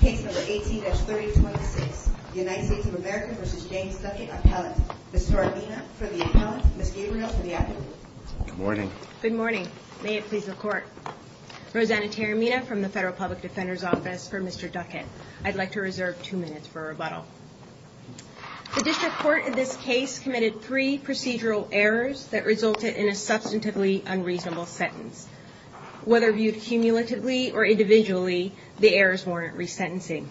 Case number 18-3026, United States of America v. James Duckett, appellant. Ms. Taramina for the appellant, Ms. Gabriel for the advocate. Good morning. Good morning. May it please the Court. Rosanna Taramina from the Federal Public Defender's Office for Mr. Duckett. I'd like to reserve two minutes for rebuttal. The District Court in this case committed three procedural errors that resulted in a substantively unreasonable sentence. Whether viewed cumulatively or individually, the errors warrant resentencing.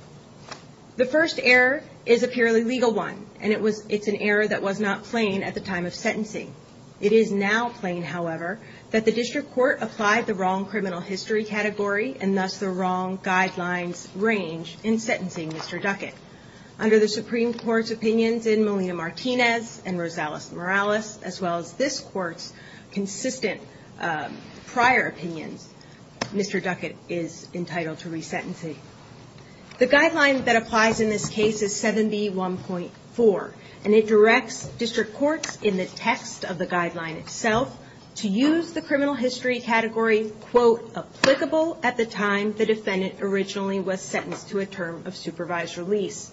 The first error is a purely legal one, and it's an error that was not plain at the time of sentencing. It is now plain, however, that the District Court applied the wrong criminal history category and thus the wrong guidelines range in sentencing Mr. Duckett. Under the Supreme Court's opinions in Molina-Martinez and Rosales-Morales, as well as this Court's consistent prior opinions, Mr. Duckett is entitled to resentencing. The guideline that applies in this case is 7B1.4, and it directs District Courts in the text of the guideline itself to use the criminal history category applicable at the time the defendant originally was sentenced to a term of supervised release.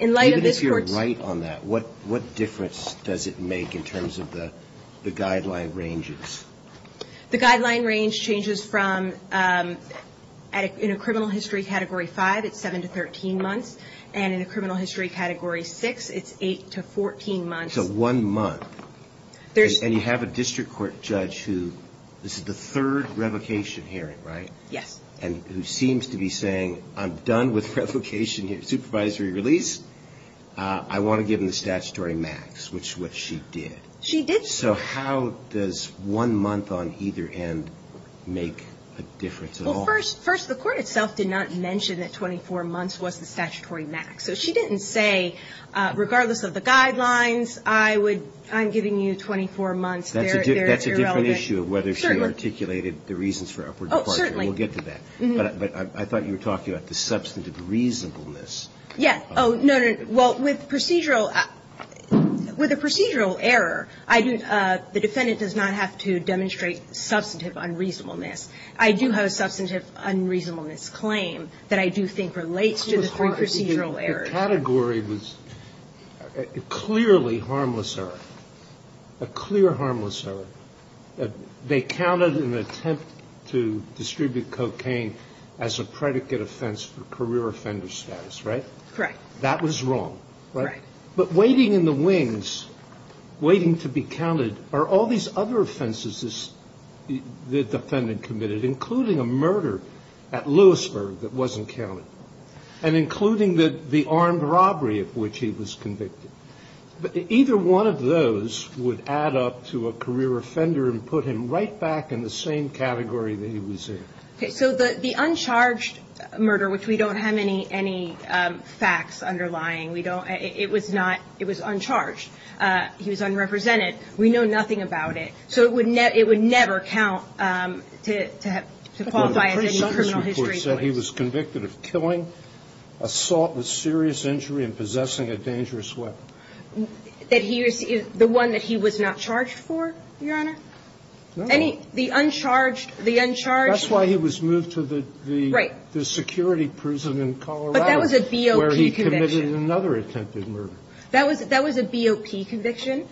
Even if you're right on that, what difference does it make in terms of the guideline ranges? The guideline range changes from, in a criminal history category 5, it's 7 to 13 months, and in a criminal history category 6, it's 8 to 14 months. So one month, and you have a District Court judge who, this is the third revocation hearing, right? Yes. And who seems to be saying, I'm done with revocation, supervisory release, I want to give him the statutory max, which is what she did. She did. So how does one month on either end make a difference at all? First, the Court itself did not mention that 24 months was the statutory max. So she didn't say, regardless of the guidelines, I would, I'm giving you 24 months, they're irrelevant. That's a different issue of whether she articulated the reasons for upward departure. Oh, certainly. We'll get to that. But I thought you were talking about the substantive reasonableness. Yes. Oh, no, no. Well, with procedural, with a procedural error, the defendant does not have to demonstrate substantive unreasonableness. I do have a substantive unreasonableness claim that I do think relates to the three procedural errors. The category was clearly harmless error, a clear harmless error. They counted an attempt to distribute cocaine as a predicate offense for career offender status, right? Correct. That was wrong, right? Right. But waiting in the wings, waiting to be counted, are all these other offenses the defendant committed, including a murder at Lewisburg that wasn't counted, and including the armed robbery at which he was convicted. Either one of those would add up to a career offender and put him right back in the same category that he was in. Okay. So the uncharged murder, which we don't have any facts underlying. We don't. It was not. It was uncharged. He was unrepresented. We know nothing about it. So it would never count to qualify as any criminal history. But the presumption report said he was convicted of killing, assault with serious injury, and possessing a dangerous weapon. That he was the one that he was not charged for, Your Honor? No. And the uncharged, the uncharged. That's why he was moved to the security prison in Colorado. Right. What about the other attempted murder? That was a BOP conviction.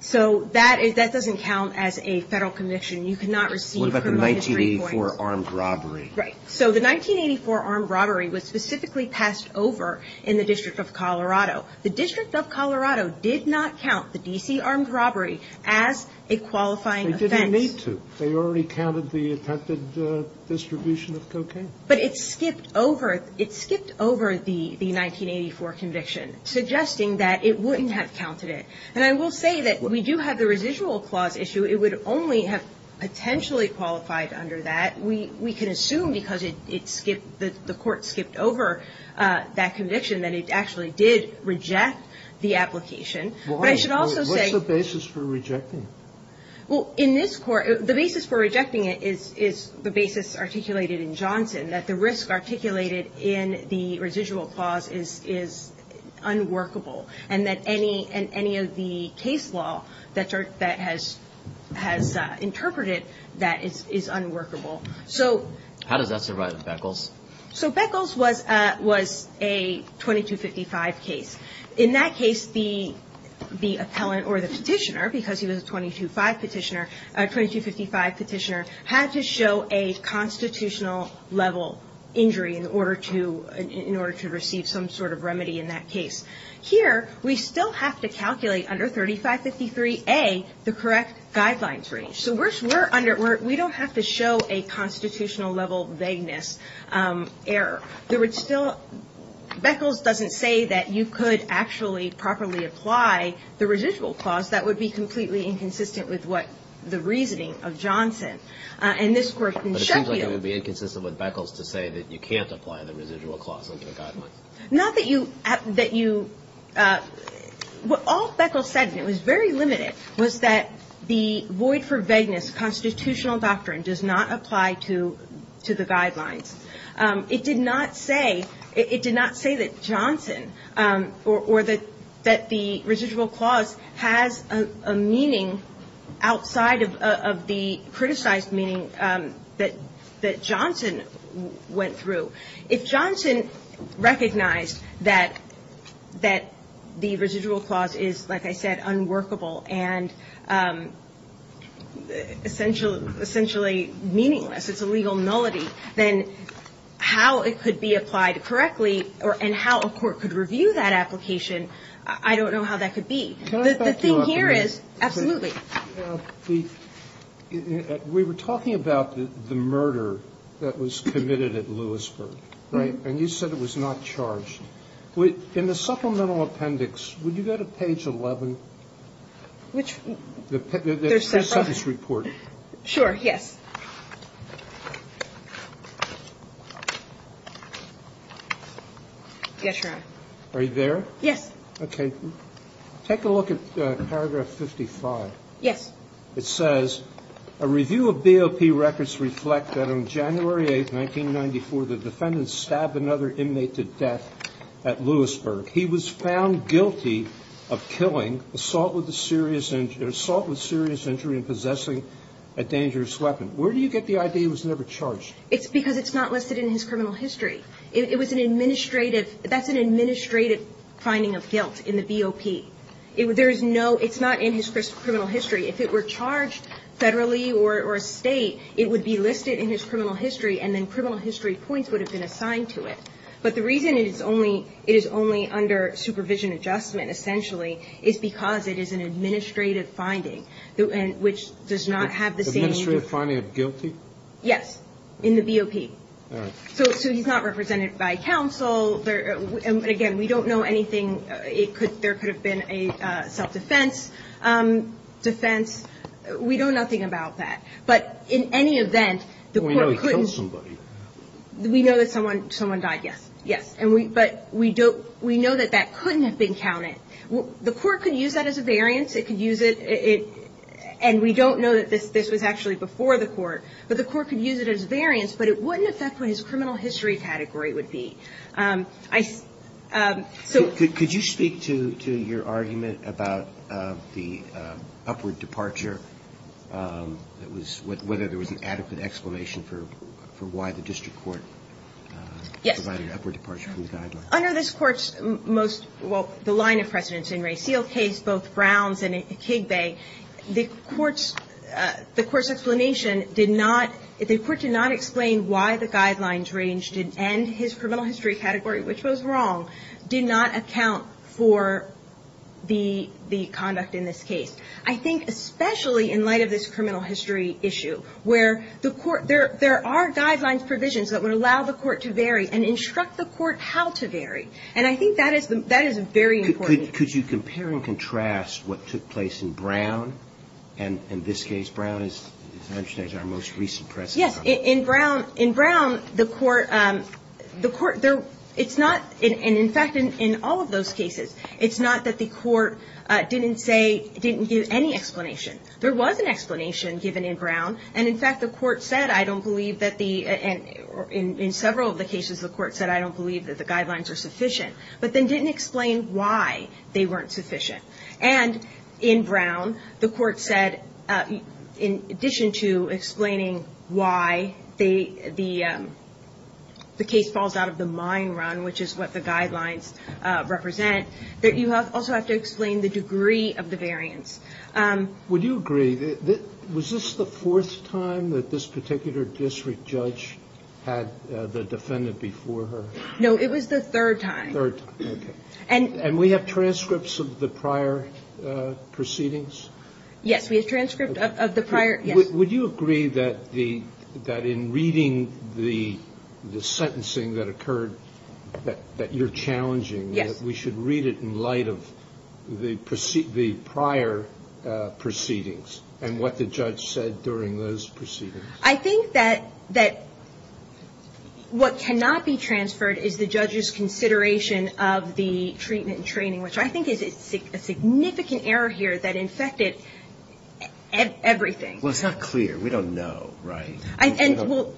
So that doesn't count as a federal conviction. You cannot receive criminal history points. What about the 1984 armed robbery? Right. So the 1984 armed robbery was specifically passed over in the District of Colorado. The District of Colorado did not count the D.C. armed robbery as a qualifying offense. They didn't need to. They already counted the attempted distribution of cocaine. But it skipped over, it skipped over the 1984 conviction, suggesting that it wouldn't have counted it. And I will say that we do have the residual clause issue. It would only have potentially qualified under that. We can assume because it skipped, the court skipped over that conviction that it actually did reject the application. But I should also say. Why? What's the basis for rejecting? Well, in this court, the basis for rejecting it is the basis articulated in Johnson, that the risk articulated in the residual clause is unworkable, and that any of the case law that has interpreted that is unworkable. So. How does that survive with Beckles? So Beckles was a 2255 case. In that case, the appellant or the petitioner, because he was a 2255 petitioner, had to show a constitutional level injury in order to receive some sort of remedy in that case. Here, we still have to calculate under 3553A the correct guidelines range. So we don't have to show a constitutional level vagueness error. Beckles doesn't say that you could actually properly apply the residual clause. That would be completely inconsistent with what the reasoning of Johnson. But it seems like it would be inconsistent with Beckles to say that you can't apply the residual clause under the guidelines. Not that you. What all Beckles said, and it was very limited, was that the void for vagueness constitutional doctrine does not apply to the guidelines. It did not say that Johnson or that the residual clause has a meaning outside of the criticized meaning that Johnson went through. If Johnson recognized that the residual clause is, like I said, unworkable and essentially meaningless, it's a legal nullity, then how it could be applied correctly and how a court could review that application, I don't know how that could be. The thing here is, absolutely. We were talking about the murder that was committed at Lewisburg, right? And you said it was not charged. In the supplemental appendix, would you go to page 11, the sentence report? Sure, yes. Yes, Your Honor. Are you there? Yes. Okay. Take a look at paragraph 55. Yes. It says, A review of BOP records reflect that on January 8, 1994, the defendant stabbed another inmate to death at Lewisburg. He was found guilty of killing, assault with serious injury and possessing a dangerous weapon. Where do you get the idea it was never charged? It's because it's not listed in his criminal history. It was an administrative – that's an administrative finding of guilt in the BOP. There is no – it's not in his criminal history. If it were charged federally or a state, it would be listed in his criminal history, and then criminal history points would have been assigned to it. But the reason it is only – it is only under supervision adjustment, essentially, is because it is an administrative finding, which does not have the same – Administrative finding of guilty? Yes. In the BOP. All right. So he's not represented by counsel. Again, we don't know anything. It could – there could have been a self-defense defense. We know nothing about that. But in any event, the court couldn't – We know he killed somebody. We know that someone died, yes. Yes. But we don't – we know that that couldn't have been counted. The court could use that as a variance. It could use it – and we don't know that this was actually before the court, but the court could use it as a variance, but it wouldn't affect what his criminal history category would be. I – so – Could you speak to your argument about the upward departure? It was – whether there was an adequate explanation for why the district court provided an upward departure from the guidelines. Yes. Under this court's most – well, the line of precedence in Ray Seale's case, both Browns and Kigbey, the court's – the court's explanation did not – the court did not explain why the guidelines range did – and his criminal history category, which was wrong, did not account for the conduct in this case. I think especially in light of this criminal history issue, where the court – there are guidelines, provisions that would allow the court to vary and instruct the court how to vary. And I think that is – that is very important. Could you compare and contrast what took place in Brown and this case? Brown is – as I understand, is our most recent precedent. Yes. In Brown – in Brown, the court – the court – there – it's not – and in fact, in all of those cases, it's not that the court didn't say – didn't give any explanation. There was an explanation given in Brown, and in fact the court said, I don't believe that the – and in several of the cases the court said, I don't believe that the guidelines are sufficient, but then didn't explain why they weren't sufficient. And in Brown, the court said, in addition to explaining why they – the case falls out of the mine run, which is what the guidelines represent, that you also have to explain the degree of the variance. Would you agree – was this the fourth time that this particular district judge had the defendant before her? No. It was the third time. Third time. Okay. And we have transcripts of the prior proceedings? Yes. We have transcripts of the prior – yes. Would you agree that the – that in reading the sentencing that occurred, that you're challenging, that we should read it in light of the prior proceedings and what the judge said during those proceedings? I think that what cannot be transferred is the judge's consideration of the treatment and training, which I think is a significant error here that infected everything. Well, it's not clear. We don't know, right? And – well,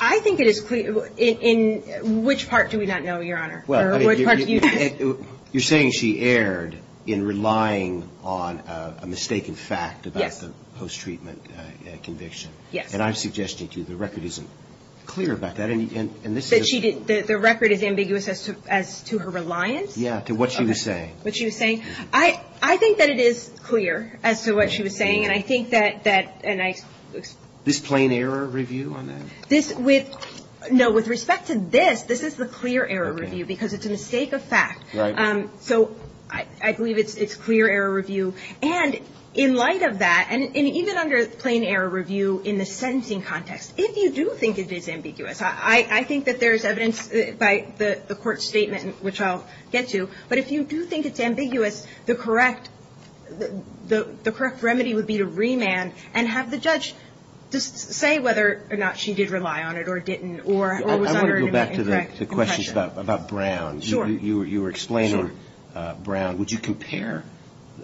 I think it is clear. In which part do we not know, Your Honor? Well, I mean, you're saying she erred in relying on a mistaken fact about the post-treatment conviction. Yes. And I'm suggesting to you the record isn't clear about that. And this is a – That she didn't – the record is ambiguous as to her reliance? Yeah, to what she was saying. What she was saying. I think that it is clear as to what she was saying, and I think that – This plain error review on that? This – no, with respect to this, this is the clear error review because it's a mistake of fact. Right. So I believe it's clear error review. And in light of that, and even under plain error review in the sentencing context, if you do think it is ambiguous, I think that there is evidence by the court's statement, which I'll get to, but if you do think it's ambiguous, the correct remedy would be to remand and have the judge say whether or not she did rely on it or didn't or was under an incorrect impression. I want to go back to the questions about Brown. Sure. You were explaining Brown. Would you compare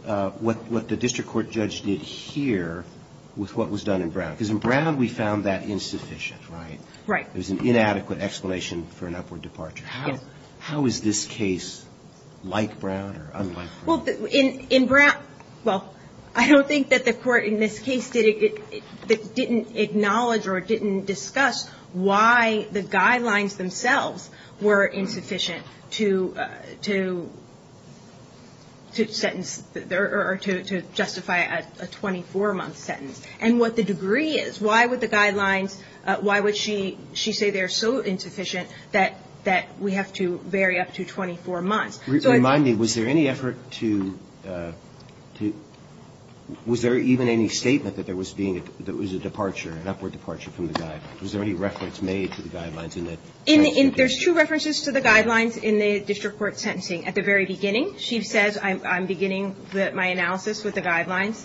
what the district court judge did here with what was done in Brown? Because in Brown we found that insufficient, right? Right. There was an inadequate explanation for an upward departure. Yes. How is this case like Brown or unlike Brown? Well, in Brown – well, I don't think that the court in this case didn't acknowledge or didn't discuss why the guidelines themselves were insufficient to sentence or to justify a 24-month sentence and what the degree is. Why would the guidelines – why would she say they're so insufficient that we have to vary up to 24 months? Remind me. Was there any effort to – was there even any statement that there was being – that there was a departure, an upward departure from the guidelines? Was there any reference made to the guidelines in the – There's two references to the guidelines in the district court sentencing. At the very beginning, she says, I'm beginning my analysis with the guidelines.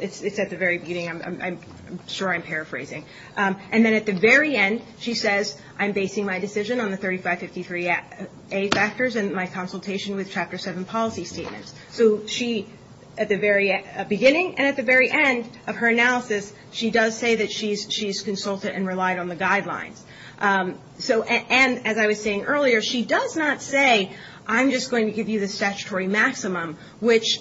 It's at the very beginning. I'm sure I'm paraphrasing. And then at the very end, she says, I'm basing my decision on the 3553A factors and my consultation with Chapter 7 policy statements. So she – at the very beginning and at the very end of her analysis, she does say that she's consulted and relied on the guidelines. So – and as I was saying earlier, she does not say, I'm just going to give you the statutory maximum, which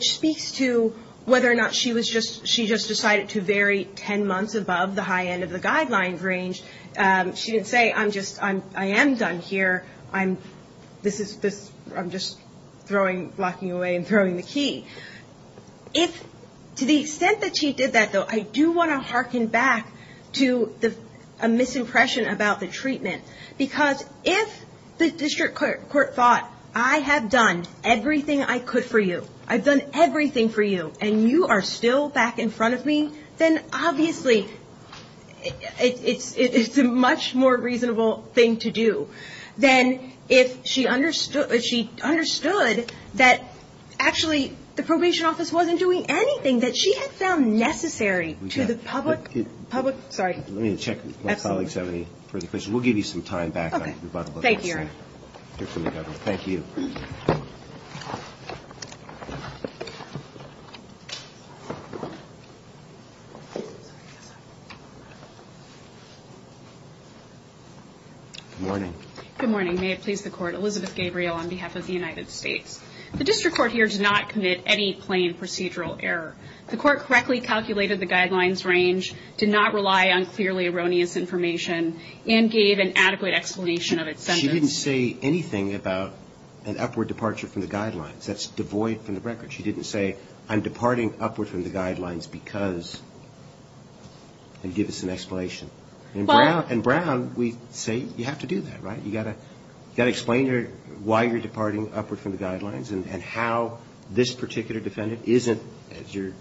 speaks to whether or not she was just – she just decided to vary 10 months above the high end of the guidelines range. She didn't say, I'm just – I am done here. I'm – this is – I'm just throwing – blocking away and throwing the key. If – to the extent that she did that, though, I do want to hearken back to a misimpression about the treatment. Because if the district court thought, I have done everything I could for you, I've done everything for you, and you are still back in front of me, then obviously it's a much more reasonable thing to do than if she understood – if she understood that actually the probation office wasn't doing anything that she had found necessary to the public – public – sorry. Let me check if my colleagues have any further questions. We'll give you some time back. Okay. Thank you, Your Honor. Thank you. Good morning. Good morning. May it please the Court. Elizabeth Gabriel on behalf of the United States. The district court here did not commit any plain procedural error. The court correctly calculated the guidelines range, did not rely on clearly erroneous information, and gave an adequate explanation of its sentence. She didn't say anything about an upward departure from the guidelines. That's devoid from the record. She didn't say, I'm departing upward from the guidelines because – and give us an explanation. Well – And Brown, we say you have to do that, right? You've got to explain to her why you're departing upward from the guidelines and how this particular defendant isn't, as your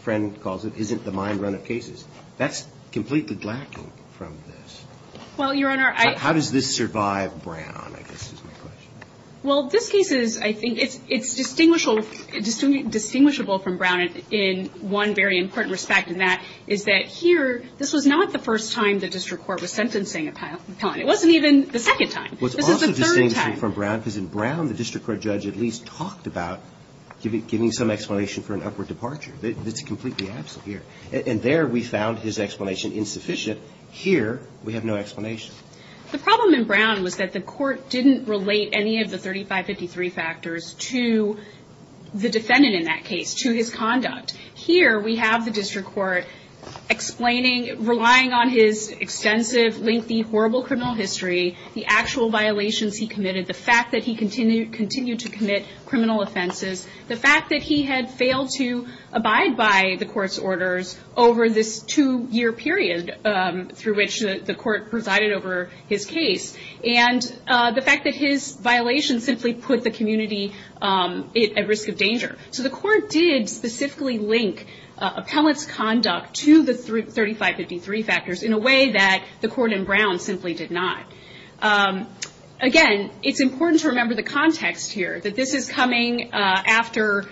friend calls it, isn't the mind run of cases. That's completely lacking from this. Well, Your Honor, I – How does this survive Brown, I guess is my question. Well, this case is – I think it's distinguishable from Brown in one very important respect, and that is that here, this was not the first time the district court was sentencing a felon. It wasn't even the second time. This was the third time. Well, that's different from Brown because in Brown, the district court judge at least talked about giving some explanation for an upward departure. That's completely absent here. And there, we found his explanation insufficient. Here, we have no explanation. The problem in Brown was that the court didn't relate any of the 3553 factors to the defendant in that case, to his conduct. Here, we have the district court explaining – relying on his extensive, lengthy, horrible criminal history, the actual violations he committed, the fact that he continued to commit criminal offenses, the fact that he had failed to abide by the court's orders over this two-year period through which the court presided over his case, and the fact that his violations simply put the community at risk of danger. So the court did specifically link Appellant's conduct to the 3553 factors in a way that the court in Brown simply did not. Again, it's important to remember the context here, that this is coming after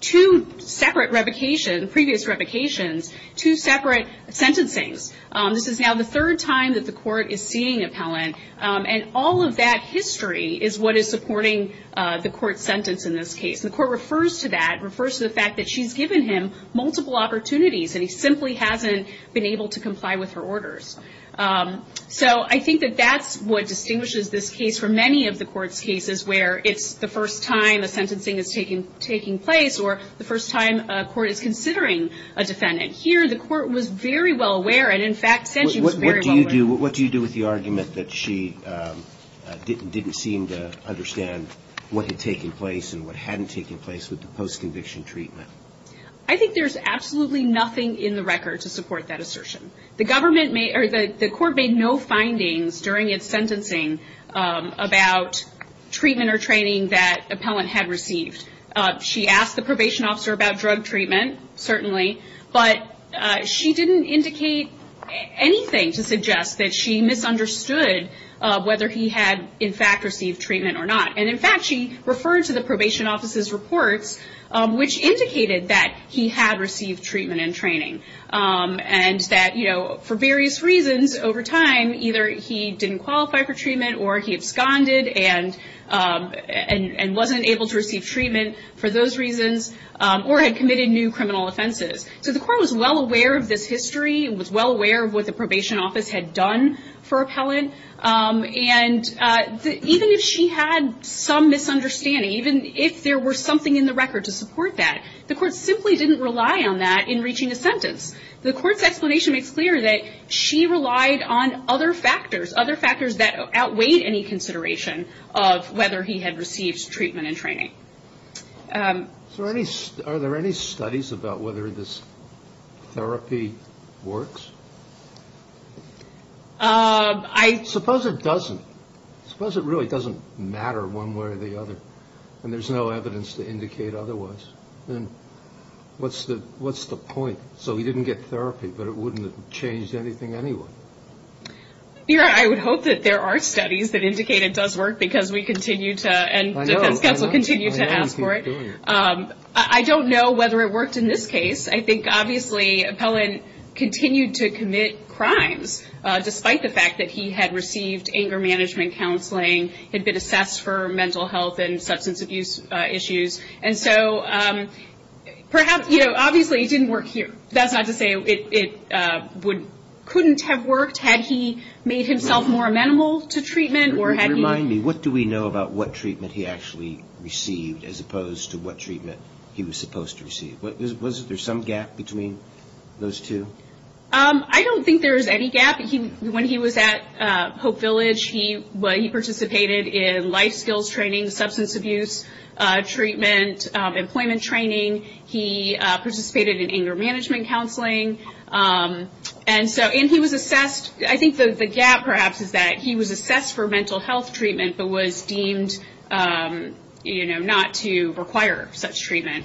two separate revocations, previous revocations, two separate sentencings. This is now the third time that the court is seeing Appellant, and all of that history is what is supporting the court's sentence in this case. The court refers to that, refers to the fact that she's given him multiple opportunities, and he simply hasn't been able to comply with her orders. So I think that that's what distinguishes this case from many of the court's cases, where it's the first time a sentencing is taking place, or the first time a court is considering a defendant. Here, the court was very well aware, and in fact said she was very well aware. What do you do with the argument that she didn't seem to understand what had taken place and what hadn't taken place with the post-conviction treatment? I think there's absolutely nothing in the record to support that assertion. The court made no findings during its sentencing about treatment or training that Appellant had received. She asked the probation officer about drug treatment, certainly, but she didn't indicate anything to suggest that she misunderstood whether he had, in fact, received treatment or not. In fact, she referred to the probation officer's reports, which indicated that he had received treatment and training, and that for various reasons over time, either he didn't qualify for treatment, or he absconded and wasn't able to receive treatment for those reasons, or had committed new criminal offenses. So the court was well aware of this history. It was well aware of what the probation office had done for Appellant. And even if she had some misunderstanding, even if there were something in the record to support that, the court simply didn't rely on that in reaching a sentence. The court's explanation makes clear that she relied on other factors, other factors that outweighed any consideration of whether he had received treatment and training. Are there any studies about whether this therapy works? Suppose it doesn't. Suppose it really doesn't matter one way or the other, and there's no evidence to indicate otherwise. Then what's the point? So he didn't get therapy, but it wouldn't have changed anything anyway. I would hope that there are studies that indicate it does work because we continue to, and defense counsel continue to ask for it. I don't know whether it worked in this case. I think obviously Appellant continued to commit crimes, despite the fact that he had received anger management counseling, had been assessed for mental health and substance abuse issues. Obviously it didn't work here. That's not to say it couldn't have worked had he made himself more amenable to treatment. Remind me, what do we know about what treatment he actually received as opposed to what treatment he was supposed to receive? Was there some gap between those two? I don't think there was any gap. When he was at Hope Village, he participated in life skills training, substance abuse treatment, employment training. He participated in anger management counseling. And he was assessed. I think the gap perhaps is that he was assessed for mental health treatment, but was deemed not to require such treatment.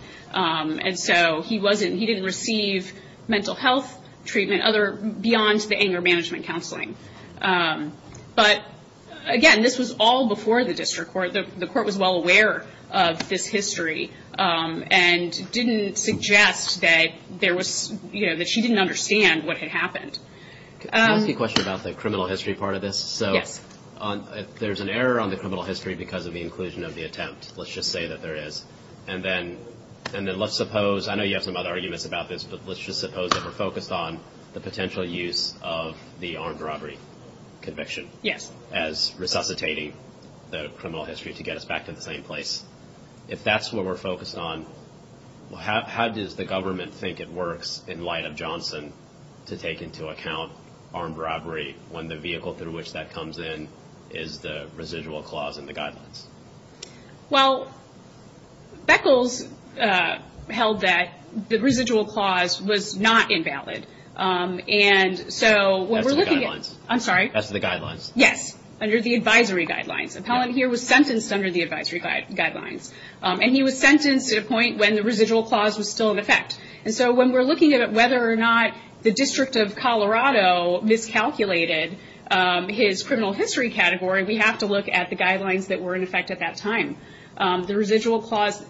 So he didn't receive mental health treatment beyond the anger management counseling. But again, this was all before the district court. The court was well aware of this history and didn't suggest that she didn't understand what had happened. Can I ask you a question about the criminal history part of this? Yes. There's an error on the criminal history because of the inclusion of the attempt. Let's just say that there is. And then let's suppose, I know you have some other arguments about this, but let's just suppose that we're focused on the potential use of the armed robbery conviction. Yes. As resuscitating the criminal history to get us back to the same place. If that's what we're focused on, how does the government think it works in light of Johnson to take into account armed robbery when the vehicle through which that comes in is the residual clause in the guidelines? Well, Beckles held that the residual clause was not invalid. And so what we're looking at- That's the guidelines. I'm sorry? That's the guidelines. Yes. Under the advisory guidelines. Appellant here was sentenced under the advisory guidelines. And he was sentenced at a point when the residual clause was still in effect. And so when we're looking at whether or not the District of Colorado miscalculated his criminal history category, we have to look at the guidelines that were in effect at that time. The residual clause,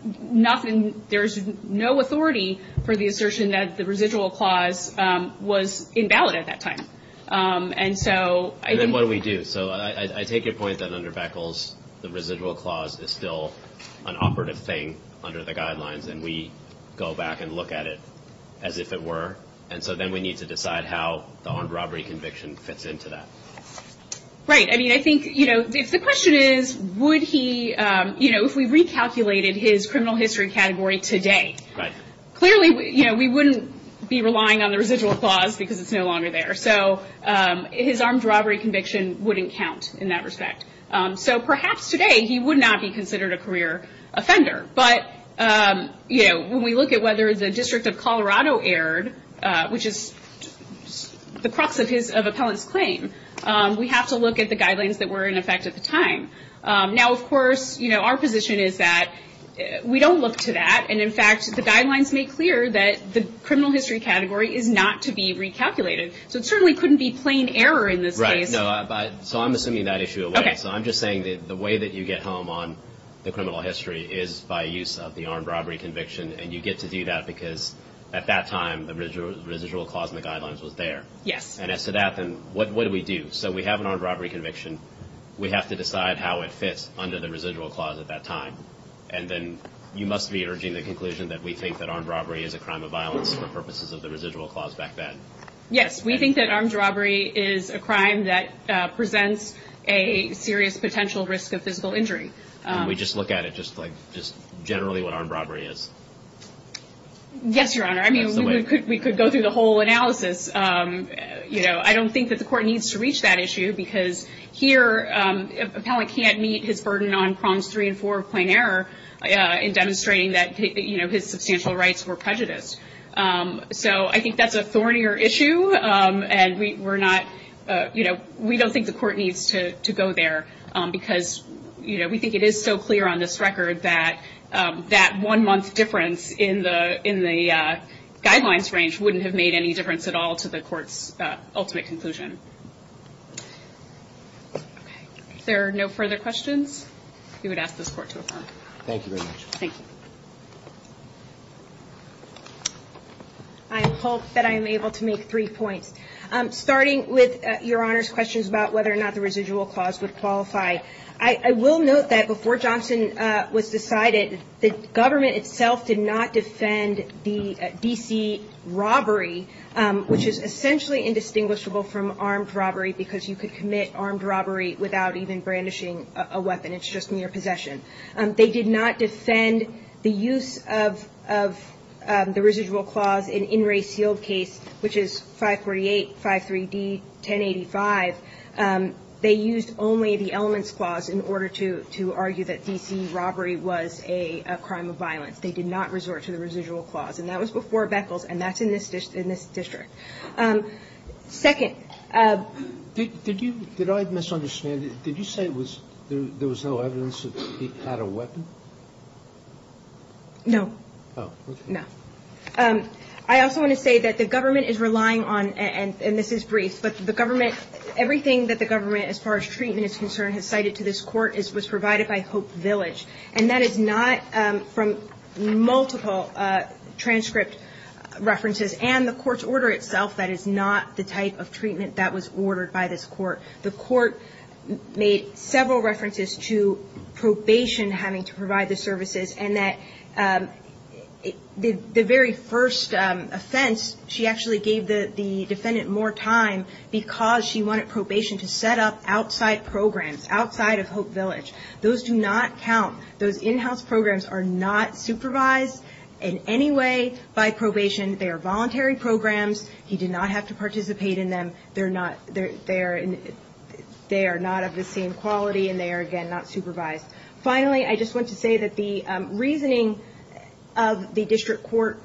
there's no authority for the assertion that the residual clause was invalid at that time. And so- And then what do we do? So I take your point that under Beckles, the residual clause is still an operative thing under the guidelines, and we go back and look at it as if it were. And so then we need to decide how the armed robbery conviction fits into that. Right. I mean, I think, you know, if the question is would he- You know, if we recalculated his criminal history category today. Right. Clearly, you know, we wouldn't be relying on the residual clause because it's no longer there. So his armed robbery conviction wouldn't count in that respect. So perhaps today he would not be considered a career offender. But, you know, when we look at whether the District of Colorado erred, which is the crux of his- We have to look at the guidelines that were in effect at the time. Now, of course, you know, our position is that we don't look to that. And, in fact, the guidelines make clear that the criminal history category is not to be recalculated. So it certainly couldn't be plain error in this case. Right. So I'm assuming that issue away. Okay. So I'm just saying that the way that you get home on the criminal history is by use of the armed robbery conviction, and you get to do that because at that time the residual clause in the guidelines was there. Yes. And as to that, then, what do we do? So we have an armed robbery conviction. We have to decide how it fits under the residual clause at that time. And then you must be urging the conclusion that we think that armed robbery is a crime of violence for purposes of the residual clause back then. Yes. We think that armed robbery is a crime that presents a serious potential risk of physical injury. And we just look at it just like just generally what armed robbery is? Yes, Your Honor. I mean, we could go through the whole analysis. You know, I don't think that the court needs to reach that issue because here, an appellant can't meet his burden on prongs three and four of plain error in demonstrating that, you know, his substantial rights were prejudiced. So I think that's a thornier issue, and we're not, you know, we don't think the court needs to go there because, you know, we think it is so clear on this record that that one-month difference in the guidelines range wouldn't have made any difference at all to the court's ultimate conclusion. Okay. If there are no further questions, we would ask this court to affirm. Thank you very much. Thank you. I hope that I am able to make three points. Starting with Your Honor's questions about whether or not the residual clause would qualify, I will note that before Johnson was decided, the government itself did not defend the D.C. robbery, which is essentially indistinguishable from armed robbery because you could commit armed robbery without even brandishing a weapon. It's just mere possession. They did not defend the use of the residual clause in In Re Sealed Case, which is 548, 53D, 1085. They used only the elements clause in order to argue that D.C. robbery was a crime of violence. They did not resort to the residual clause. And that was before Beckles, and that's in this district. Second. Did you – did I misunderstand? Did you say there was no evidence that he had a weapon? No. Oh, okay. No. I also want to say that the government is relying on – and this is brief – but the government – everything that the government, as far as treatment is concerned, has cited to this court was provided by Hope Village, and that is not from multiple transcript references and the court's order itself. That is not the type of treatment that was ordered by this court. The court made several references to probation having to provide the services and that the very first offense, she actually gave the defendant more time because she wanted probation to set up outside programs, outside of Hope Village. Those do not count. Those in-house programs are not supervised in any way by probation. They are voluntary programs. He did not have to participate in them. They are not of the same quality, and they are, again, not supervised. Finally, I just want to say that the reasoning of the district court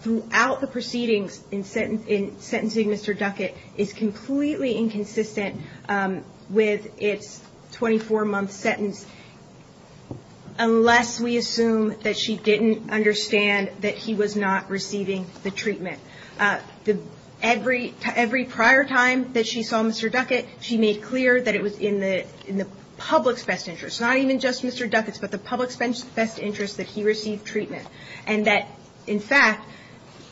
throughout the proceedings in sentencing Mr. Duckett is completely inconsistent with its 24-month sentence unless we assume that she didn't understand that he was not receiving the treatment. Every prior time that she saw Mr. Duckett, she made clear that it was in the public's best interest, not even just Mr. Duckett's, but the public's best interest that he receive treatment, and that, in fact,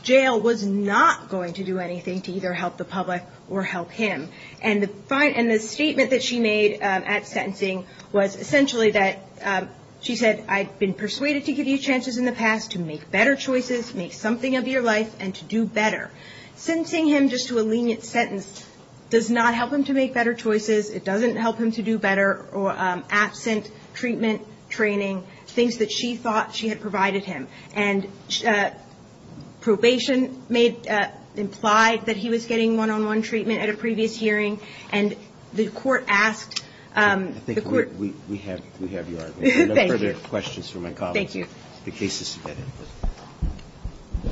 jail was not going to do anything to either help the public or help him. And the statement that she made at sentencing was essentially that she said, I've been persuaded to give you chances in the past to make better choices, make something of your life, and to do better. Sentencing him just to a lenient sentence does not help him to make better choices. It doesn't help him to do better absent treatment, training, things that she thought she had provided him. And probation made – implied that he was getting one-on-one treatment at a previous hearing, and the court asked the court – I think we have your argument. Thank you. No further questions from my colleagues. Thank you. The case is submitted.